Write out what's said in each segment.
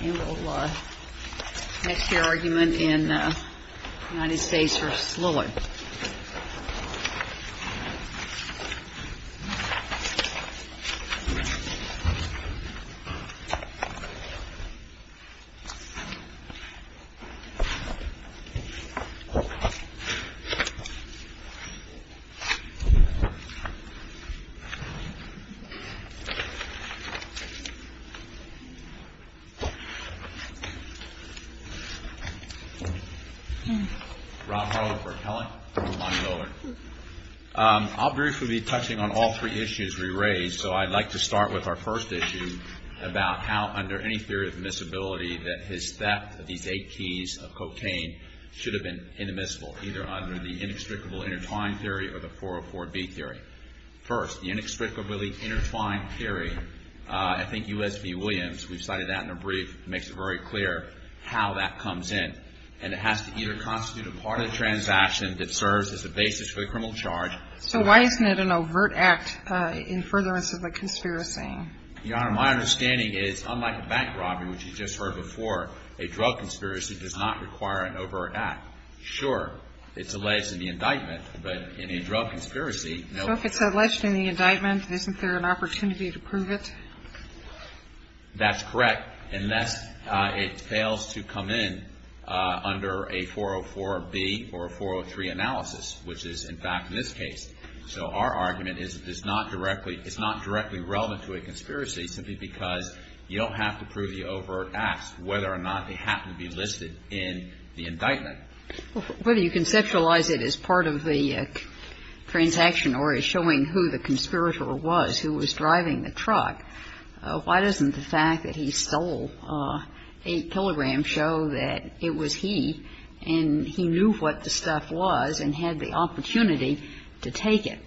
And we'll next hear argument in United States v. Lillard I'll briefly be touching on all three issues we raised, so I'd like to start with our first issue about how under any theory of admissibility that his theft of these eight keys of cocaine should have been inadmissible, either under the inextricable intertwined theory or the 404B theory. First, the inextricably intertwined theory, I think U.S. v. Williams, we've cited that in a brief, makes it very clear how that comes in. And it has to either constitute a part of the transaction that serves as the basis for the criminal charge. So why isn't it an overt act in furtherance of a conspiracy? Your Honor, my understanding is, unlike a bank robbery, which you just heard before, a drug conspiracy does not require an overt act. Sure, it's alleged in the indictment, but in a drug conspiracy, no. So if it's alleged in the indictment, isn't there an opportunity to prove it? That's correct, unless it fails to come in under a 404B or a 403 analysis, which is, in fact, in this case. So our argument is it's not directly relevant to a conspiracy simply because you don't have to prove the overt acts, whether or not they happen to be listed in the indictment. Whether you conceptualize it as part of the transaction or as showing who the conspirator was who was driving the truck, why doesn't the fact that he stole 8 kilograms show that it was he and he knew what the stuff was and had the opportunity to take it,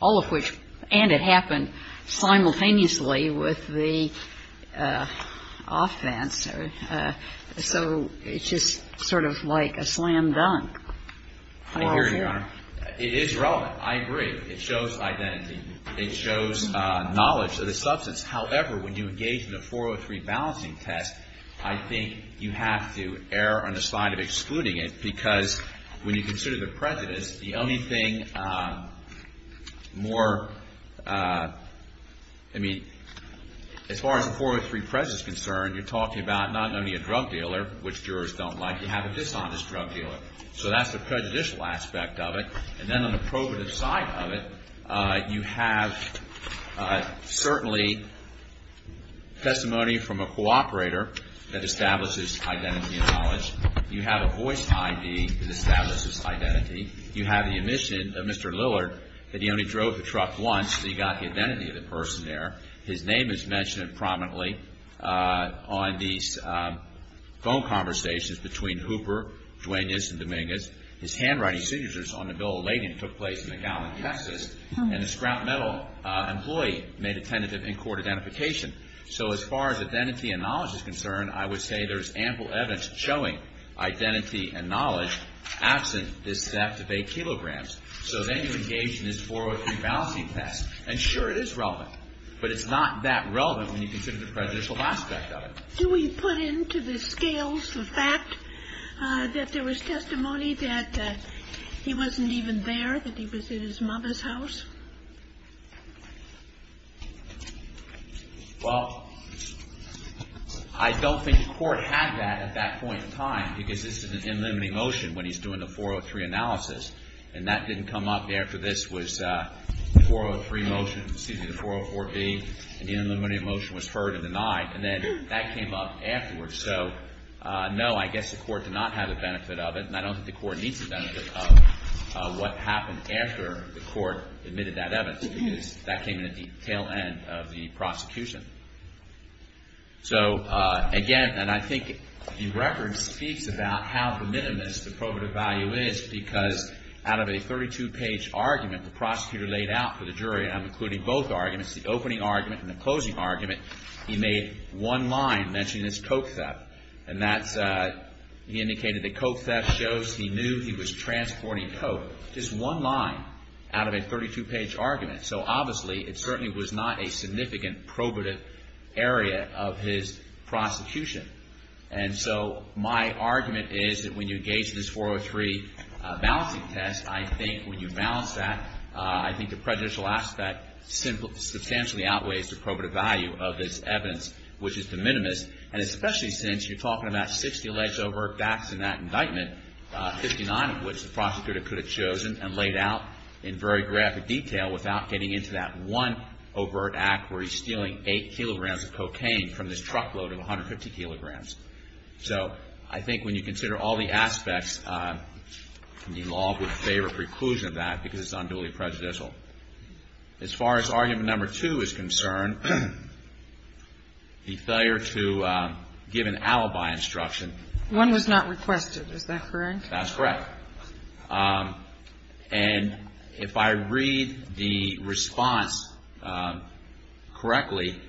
all of which, and it happened simultaneously with the offense? So it's just sort of like a slam dunk. I hear you, Your Honor. It is relevant. I agree. It shows identity. It shows knowledge of the substance. However, when you engage in a 403 balancing test, I think you have to err on the side of excluding it because when you consider the precedence, the only thing more, I mean, as far as the 403 precedence is concerned, you're talking about not having a drug dealer, which is something that most jurors don't like. You have a dishonest drug dealer. So that's the prejudicial aspect of it. And then on the probative side of it, you have certainly testimony from a co-operator that establishes identity and knowledge. You have a voice ID that establishes identity. You have the admission of Mr. Lillard that he only drove the truck once, so he got the identity of the person there. His name is mentioned prominently on these phone conversations between Hooper, Duane Nissen, and Dominguez. His handwriting signatures on the bill of lading took place in McAllen, Texas, and the scrap metal employee made a tentative in-court identification. So as far as identity and knowledge is concerned, I would say there's ample evidence showing identity and knowledge absent this theft of eight kilograms. So then you engage in this 403 balancing test. And sure, it is relevant, but it's not that relevant when you consider the prejudicial aspect of it. Do we put into the scales the fact that there was testimony that he wasn't even there, that he was in his mother's house? Well, I don't think the Court had that at that point in time, because this is an in-limiting motion when he's doing the 403 analysis, and that didn't come up after this was the 403 motion, excuse me, the 404B, and the in-limiting motion was heard and denied. And then that came up afterwards. So no, I guess the Court did not have the benefit of it, and I don't think the Court needs the benefit of what happened after the Court admitted that evidence, because that came in at the tail end of the prosecution. So again, and I think the record speaks about how de minimis the probative value is, because out of a 32-page argument the prosecutor laid out for the jury, and I'm including both arguments, the opening argument and the closing argument, he made one line mentioning this coke theft. And that's, he indicated that coke theft shows he knew he was transporting coke. Just one line out of a 32-page argument. So obviously, it certainly was not a significant probative area of his prosecution. And so my argument is that when you engage in this 403 balancing test, I think when you balance that, I think the prejudicial aspect substantially outweighs the probative value of this evidence, which is de minimis. And especially since you're talking about 60 alleged overt facts in that indictment, 59 of which the prosecutor could have chosen and laid out in very graphic detail without getting into that one overt act where he's stealing 8 kilograms of cocaine from this truckload of 150 kilograms. So I think when you consider all the aspects, the law would favor preclusion of that because it's unduly prejudicial. As far as argument number two is concerned, the failure to give an alibi instruction. One was not requested. Is that correct? That's correct. And if I read the response correctly,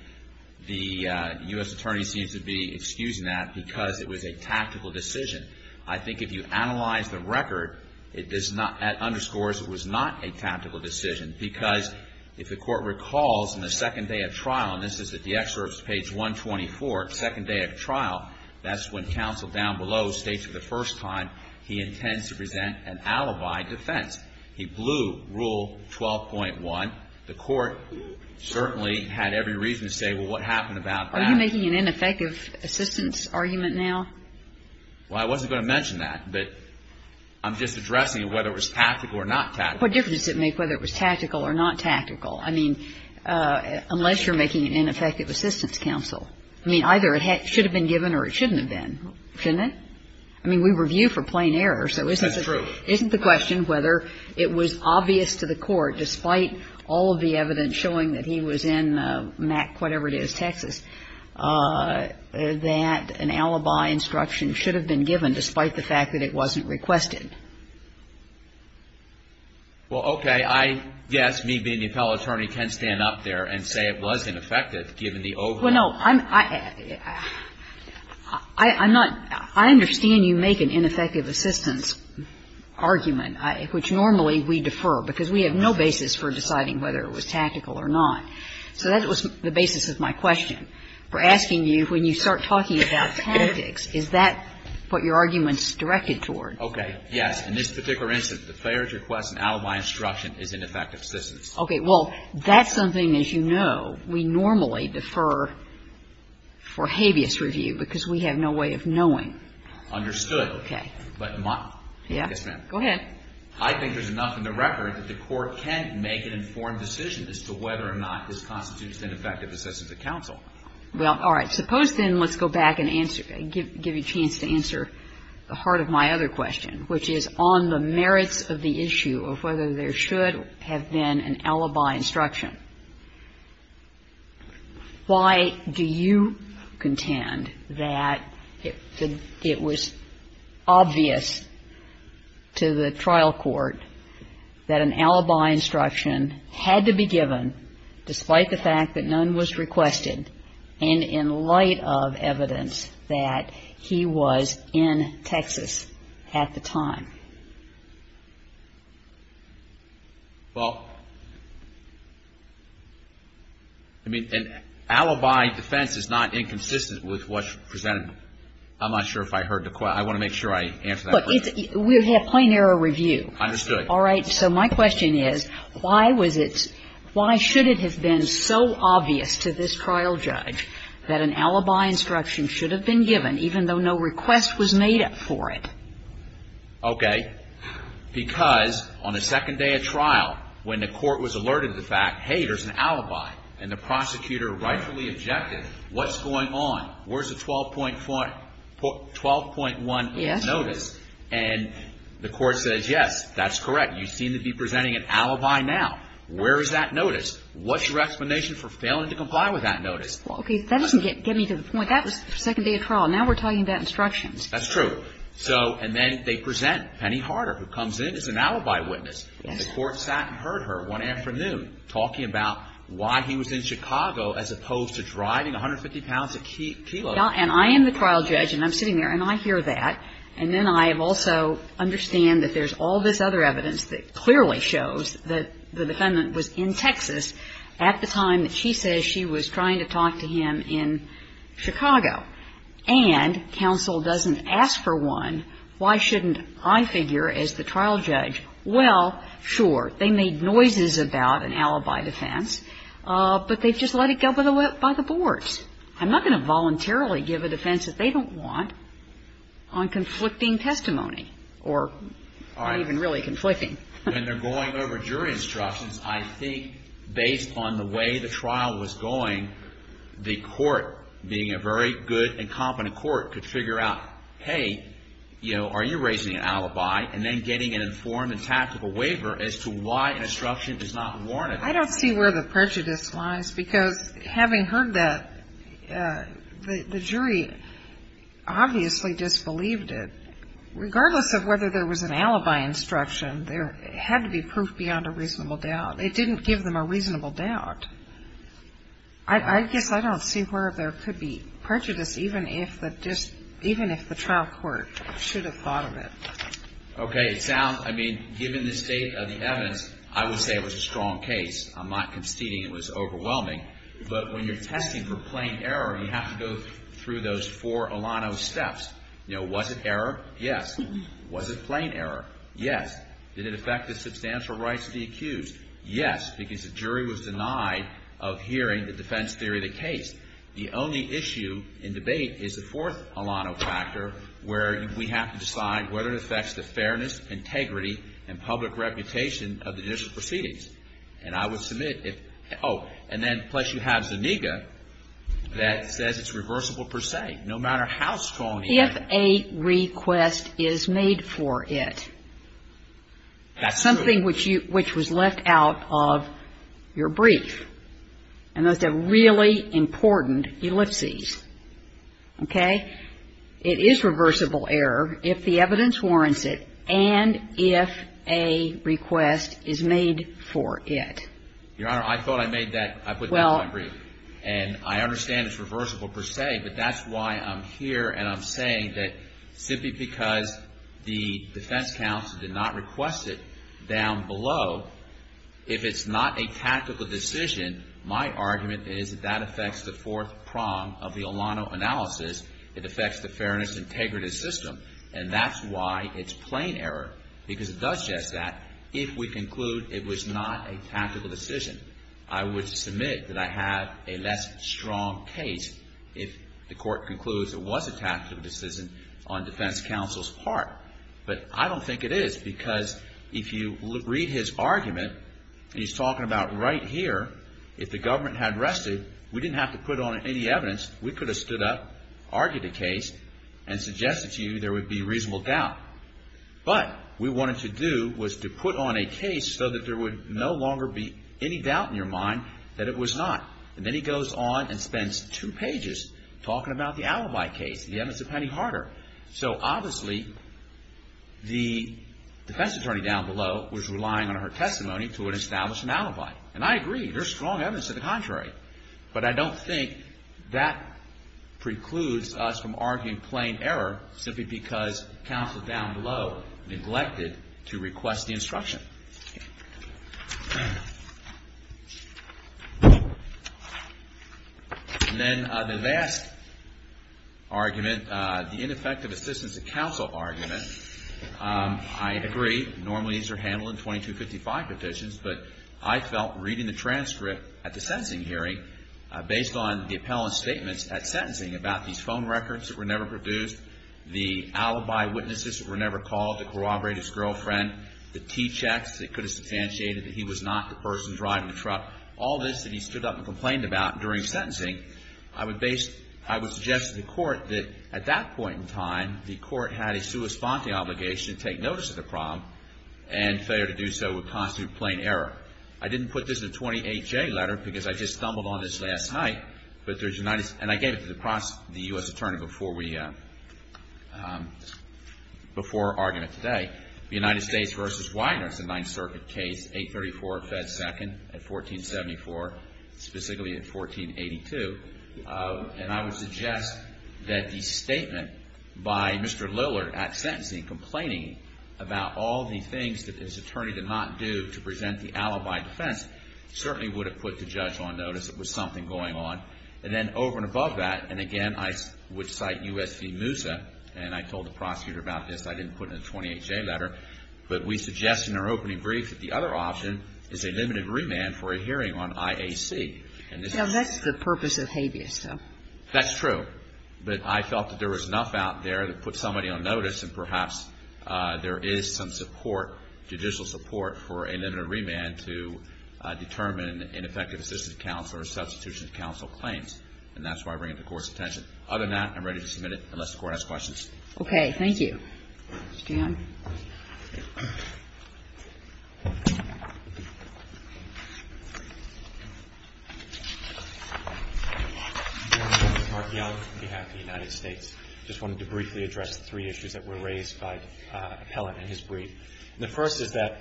the U.S. attorney seems to be excusing that because it was a tactical decision. I think if you analyze the record, it underscores it was not a tactical decision because if the court recalls in the second day of trial, and this is at the excerpts, page 124, second day of trial, that's when counsel down below states for the first time he intends to present an alibi defense. He blew Rule 12.1. The court certainly had every reason to say, well, what happened about that? Are you making an ineffective assistance argument now? Well, I wasn't going to mention that, but I'm just addressing whether it was tactical or not tactical. What difference does it make whether it was tactical or not tactical? I mean, unless you're making an ineffective assistance counsel. I mean, either it should have been given or it shouldn't have been, shouldn't it? I mean, we review for plain error. So isn't the question whether it was obvious to the court, despite all of the evidence showing that he was in Mac, whatever it is, Texas, that an alibi instruction should have been given, despite the fact that it wasn't requested? Well, okay. I guess me being the appellate attorney can stand up there and say it was ineffective given the overall. Well, no. I'm not – I understand you make an ineffective assistance argument, which normally we defer because we have no basis for deciding whether it was tactical or not. So that was the basis of my question. We're asking you, when you start talking about tactics, is that what your argument is directed toward? Okay. Yes. In this particular instance, the failure to request an alibi instruction is ineffective assistance. Okay. Well, that's something, as you know, we normally defer for habeas review because we have no way of knowing. Understood. Okay. But my – yes, ma'am. Go ahead. I think there's enough in the record that the court can make an informed decision as to whether or not this constitutes an effective assistance to counsel. Well, all right. Suppose, then, let's go back and answer – give you a chance to answer the heart of my other question, which is on the merits of the issue of whether there should have been an alibi instruction. Why do you contend that it was obvious to the trial court that an alibi instruction had to be given despite the fact that none was requested and in light of evidence that he was in Texas at the time? Well, I mean, an alibi defense is not inconsistent with what's presented. I'm not sure if I heard the question. I want to make sure I answer that question. Look, we have plain error review. Understood. All right. So my question is, why was it – why should it have been so obvious to this trial judge that an alibi instruction should have been given even though no request was made for it? Okay. Because on the second day of trial, when the court was alerted to the fact, hey, there's an alibi, and the prosecutor rightfully objected, what's going on? Where's the 12.1 notice? And the court says, yes, that's correct. You seem to be presenting an alibi now. Where is that notice? What's your explanation for failing to comply with that notice? Okay. That doesn't get me to the point. That was the second day of trial. Now we're talking about instructions. That's true. So – and then they present Penny Harder, who comes in as an alibi witness. Yes. And the court sat and heard her one afternoon talking about why he was in Chicago as opposed to driving 150 pounds a kilo. And I am the trial judge, and I'm sitting there, and I hear that. And then I also understand that there's all this other evidence that clearly shows that the defendant was in Texas at the time that she says she was trying to talk to him in Chicago. And counsel doesn't ask for one. Why shouldn't I figure as the trial judge, well, sure, they made noises about an alibi defense, but they just let it go by the boards. I'm not going to voluntarily give a defense that they don't want on conflicting testimony or not even really conflicting. All right. When they're going over jury instructions, I think based on the way the trial was going, the court, being a very good and competent court, could figure out, hey, you know, are you raising an alibi? And then getting an informed and tactical waiver as to why an instruction does not warrant it. I don't see where the prejudice lies, because having heard that, the jury obviously disbelieved it. Regardless of whether there was an alibi instruction, there had to be proof beyond a reasonable doubt. It didn't give them a reasonable doubt. I guess I don't see where there could be prejudice, even if the trial court should have thought of it. Okay. It sounds, I mean, given the state of the evidence, I would say it was a strong case. I'm not conceding it was overwhelming. But when you're testing for plain error, you have to go through those four Alano steps. You know, was it error? Yes. Was it plain error? Yes. Did it affect the substantial rights to be accused? Yes, because the jury was denied of hearing the defense theory of the case. The only issue in debate is the fourth Alano factor, where we have to decide whether it affects the fairness, integrity, and public reputation of the judicial proceedings. And I would submit if, oh, and then plus you have Zuniga that says it's reversible per se, no matter how strong the argument. If a request is made for it, something which you, which was left out of the brief. And those are really important ellipses. Okay. It is reversible error if the evidence warrants it and if a request is made for it. Your Honor, I thought I made that, I put that in my brief. Well. And I understand it's reversible per se, but that's why I'm here and I'm saying that simply because the defense counsel did not request it down below, the fourth Alano factor. If it's not a tactical decision, my argument is that that affects the fourth prong of the Alano analysis. It affects the fairness, integrity system. And that's why it's plain error because it does just that. If we conclude it was not a tactical decision, I would submit that I have a less strong case if the court concludes it was a tactical decision on defense counsel's part. But I don't think it is because if you read his argument and he's talking about right here, if the government had rested, we didn't have to put on any evidence. We could have stood up, argued the case and suggested to you there would be reasonable doubt. But we wanted to do was to put on a case so that there would no longer be any doubt in your mind that it was not. And then he goes on and spends two pages talking about the alibi case, the evidence of Patty Harder. So obviously the defense attorney down below was relying on her testimony to establish an alibi. And I agree. There's strong evidence to the contrary. But I don't think that precludes us from arguing plain error simply because counsel down below neglected to request the instruction. And then the last argument, the ineffective assistance of counsel argument, I agree. Normally these are handled in 2255 petitions. But I felt reading the transcript at the sentencing hearing based on the appellant's statements at sentencing about these phone records that were never produced, the alibi witnesses that were never called, the corroborated girlfriend, the T-checks that could have substantiated that he was not the person driving the truck, all this that he stood up and complained about during sentencing, I would base, I would suggest to the court that at that point in time, the court had a sua sponte obligation to take notice of the problem and failure to do so would constitute plain error. I didn't put this in a 28-J letter because I just stumbled on this last night. But there's, and I gave it to the U.S. The United States v. Widener, it's a Ninth Circuit case, 834 at Fed Second, at 1474, specifically at 1482. And I would suggest that the statement by Mr. Lillard at sentencing complaining about all the things that his attorney did not do to present the alibi defense certainly would have put the judge on notice that there was something going on. And then over and above that, and again, I would cite U.S. v. Widener's 28-J letter, but we suggest in our opening brief that the other option is a limited remand for a hearing on IAC. And this is the purpose of habeas, though. That's true. But I felt that there was enough out there to put somebody on notice and perhaps there is some support, judicial support, for a limited remand to determine an effective assistance counsel or substitution counsel claims. And that's why I bring it to the court's attention. Other than that, I'm ready to submit it unless the court has questions. Okay. Thank you. Stan. I'm Mark Young on behalf of the United States. I just wanted to briefly address three issues that were raised by Appellant in his brief. The first is that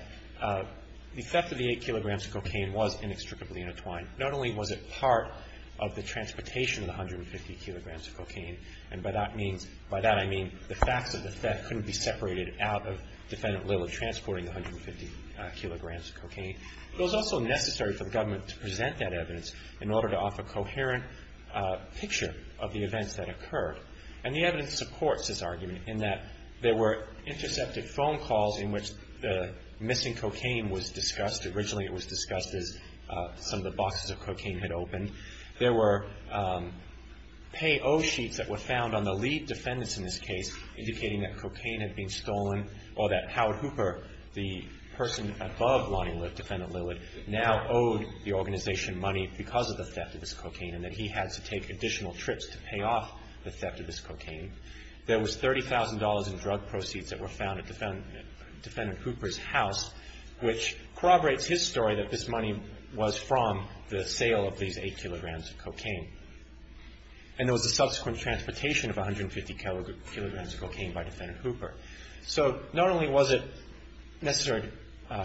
the theft of the 8 kilograms of cocaine was inextricably intertwined. Not only was it part of the transportation of the 150 kilograms of cocaine, and by that means, by that I mean the facts of the theft couldn't be separated out of defendant Lilly transporting the 150 kilograms of cocaine. It was also necessary for the government to present that evidence in order to offer a coherent picture of the events that occurred. And the evidence supports this argument in that there were intercepted phone calls in which the missing cocaine was discussed. Originally it was discussed as some of the boxes of cocaine had opened. There were pay-oh sheets that were found on the lead defendants in this case indicating that cocaine had been stolen or that Howard Hooper, the person above lying with defendant Lilly, now owed the organization money because of the theft of this cocaine and that he had to take additional trips to pay off the theft of this cocaine. There was $30,000 in drug proceeds that were found at defendant Hooper's house, which corroborates his story that this money was from the sale of these 8 kilograms of cocaine. And there was a subsequent transportation of 150 kilograms of cocaine by defendant Hooper. So not only was it necessary to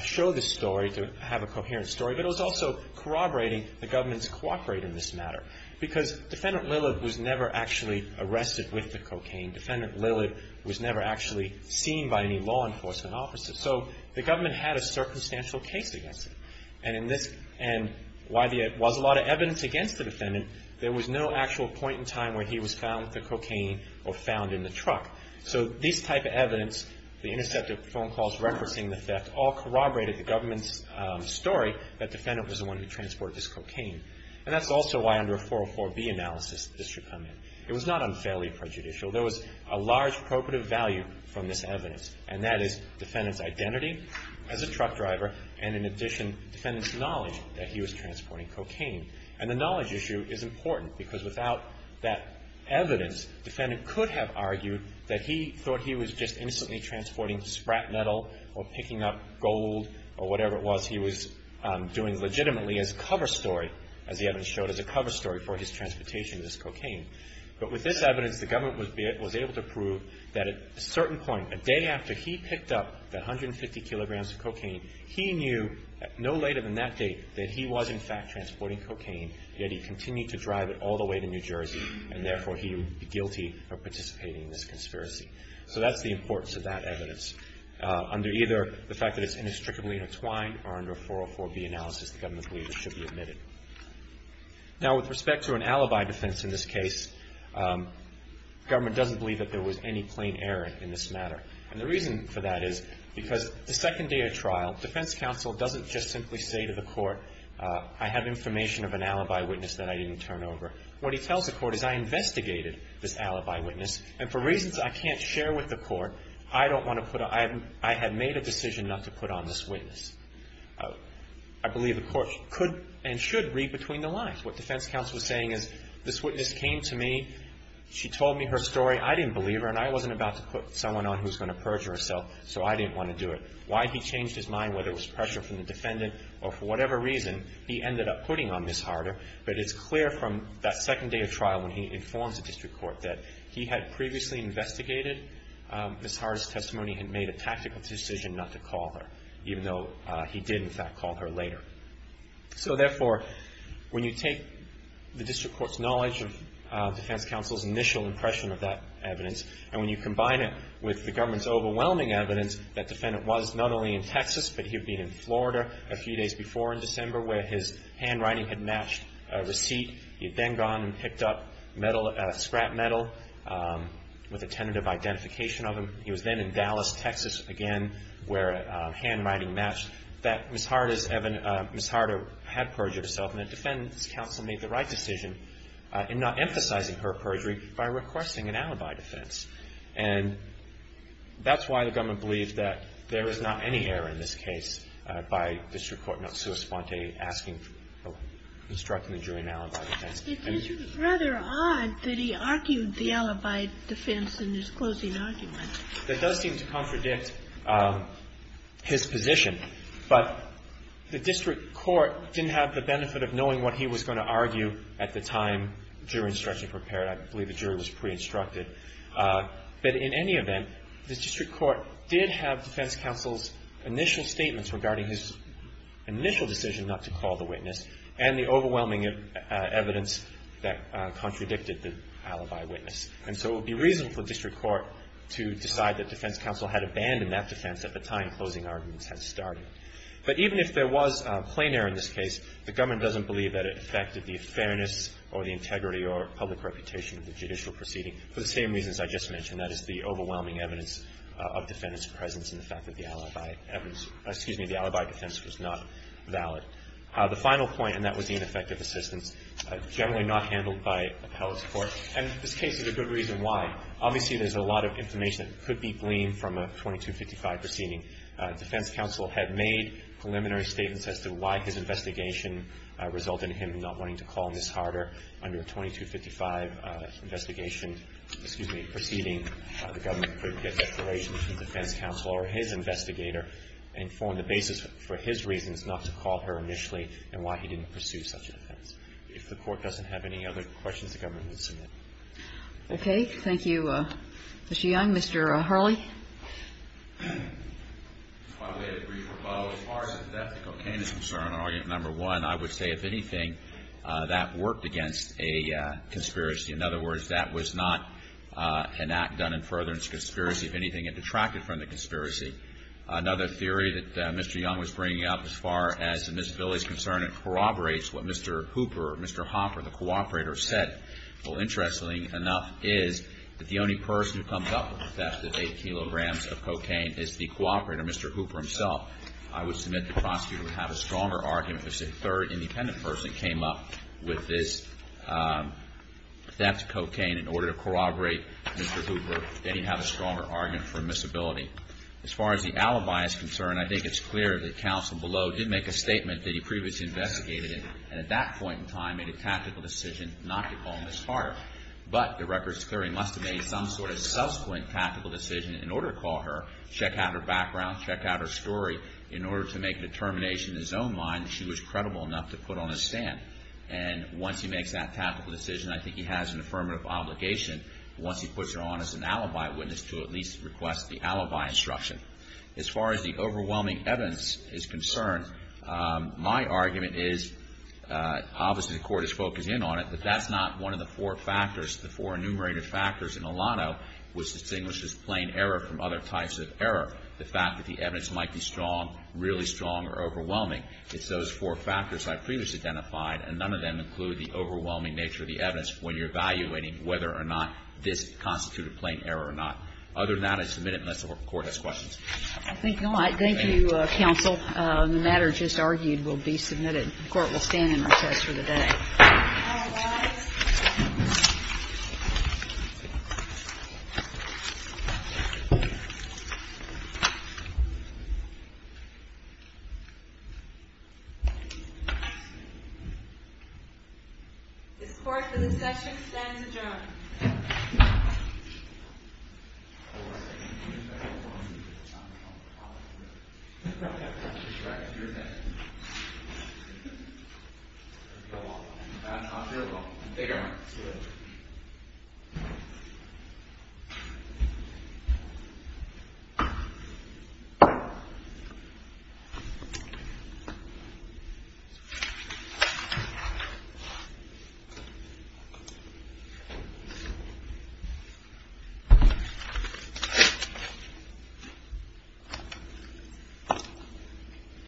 show this story to have a coherent story, but it was also corroborating the government's cooperate in this matter because defendant Lilly was never actually arrested with the cocaine. Defendant Lilly was never actually seen by any law enforcement officers. So the government had a circumstantial case against it. And while there was a lot of evidence against the defendant, there was no actual point in time where he was found with the cocaine or found in the truck. So these type of evidence, the intercepted phone calls referencing the theft, all corroborated the government's story that defendant was the one who transported this cocaine. And that's also why under a 404B analysis this should come in. It was not unfairly prejudicial. There was a large probative value from this evidence, and that is defendant's knowledge that he was transporting cocaine. And the knowledge issue is important because without that evidence, defendant could have argued that he thought he was just instantly transporting sprat metal or picking up gold or whatever it was he was doing legitimately as a cover story, as the evidence showed, as a cover story for his transportation of this cocaine. But with this evidence, the government was able to prove that at a certain point, a day after he picked up the 150 kilograms of cocaine, he knew no later than that date that he was in fact transporting cocaine, yet he continued to drive it all the way to New Jersey, and therefore he would be guilty of participating in this conspiracy. So that's the importance of that evidence. Under either the fact that it's inextricably intertwined or under a 404B analysis, the government believes it should be admitted. Now, with respect to an alibi defense in this case, government doesn't believe that there was any plain error in this matter. And the reason for that is because the second day of trial, defense counsel doesn't just simply say to the court, I have information of an alibi witness that I didn't turn over. What he tells the court is, I investigated this alibi witness, and for reasons I can't share with the court, I don't want to put a – I had made a decision not to put on this witness. I believe the court could and should read between the lines. What defense counsel is saying is, this witness came to me, she told me her story, I didn't believe her, and I wasn't about to put someone on who's going to perjure herself, so I didn't want to do it. Why he changed his mind, whether it was pressure from the defendant or for whatever reason, he ended up putting on Ms. Harder. But it's clear from that second day of trial when he informs the district court that he had previously investigated Ms. Harder's testimony and made a tactical decision not to call her, even though he did, in fact, call her later. So, therefore, when you take the district court's knowledge of defense counsel's initial impression of that evidence, and when you combine it with the government's overwhelming evidence that defendant was not only in Texas, but he had been in Florida a few days before in December, where his handwriting had matched a receipt. He had then gone and picked up scrap metal with a tentative identification of him. He was then in Dallas, Texas, again, where handwriting matched that Ms. Harder's – Ms. Harder had perjured herself. And the defense counsel made the right decision in not emphasizing her perjury by requesting an alibi defense. And that's why the government believes that there is not any error in this case by district court not sua sponte, asking for or instructing the jury in an alibi defense. I mean, you can't argue with that. It is rather odd that he argued the alibi defense in his closing argument. That does seem to contradict his position. But the district court didn't have the benefit of knowing what he was going to argue at the time jury instruction prepared. I believe the jury was pre-instructed. But in any event, the district court did have defense counsel's initial statements regarding his initial decision not to call the witness and the overwhelming evidence that contradicted the alibi witness. And so it would be reasonable for district court to decide that defense counsel had abandoned that defense at the time closing arguments had started. But even if there was plein air in this case, the government doesn't believe that it affected the fairness or the integrity or public reputation of the judicial proceeding for the same reasons I just mentioned, that is the overwhelming evidence of defendant's presence and the fact that the alibi defense was not valid. The final point, and that was the ineffective assistance, generally not handled by appellate's court. And this case is a good reason why. Obviously, there's a lot of information that could be gleaned from a 2255 proceeding. Defense counsel had made preliminary statements as to why his investigation resulted in him not wanting to call Ms. Harder. Under a 2255 investigation, excuse me, proceeding, the government could get declarations from defense counsel or his investigator and form the basis for his reasons not to call her initially and why he didn't pursue such a defense. If the court doesn't have any other questions, the government would submit. Okay. Thank you, Mr. Young. Mr. Hurley. As far as the death of Cocaine is concerned, argument number one, I would say if anything, that worked against a conspiracy. In other words, that was not an act done in furtherance of conspiracy. If anything, it detracted from the conspiracy. Another theory that Mr. Young was bringing up as far as the Miss Billy is concerned, it corroborates what Mr. Hooper, Mr. Hopper, the cooperator, said. Well, interestingly enough, is that the only person who comes up with the theft of 8 kilograms of Cocaine is the cooperator, Mr. Hooper himself. I would submit the prosecutor would have a stronger argument if a third independent person came up with this theft of Cocaine in order to corroborate Mr. Hooper, that he'd have a stronger argument for Miss Billy. As far as the alibi is concerned, I think it's clear that counsel below did make a statement that he previously investigated, and at that point in time made a tactical decision not to call Miss Harder. But the records clearly must have made some sort of subsequent tactical decision in order to call her, check out her background, check out her story, in order to make a determination in his own mind that she was credible enough to put on a stand. And once he makes that tactical decision, I think he has an affirmative obligation, once he puts her on as an alibi witness, to at least request the alibi instruction. As far as the overwhelming evidence is concerned, my argument is, obviously the Court is focused in on it, but that's not one of the four factors, the four enumerated factors in Elano, which distinguishes plain error from other types of error. The fact that the evidence might be strong, really strong or overwhelming. It's those four factors I've previously identified, and none of them include the overwhelming nature of the evidence when you're evaluating whether or not this constituted plain error or not. Other than that, I submit it unless the Court has questions. Thank you, Counsel. The matter just argued will be submitted. The Court will stand in recess for the day. All rise. Thank you.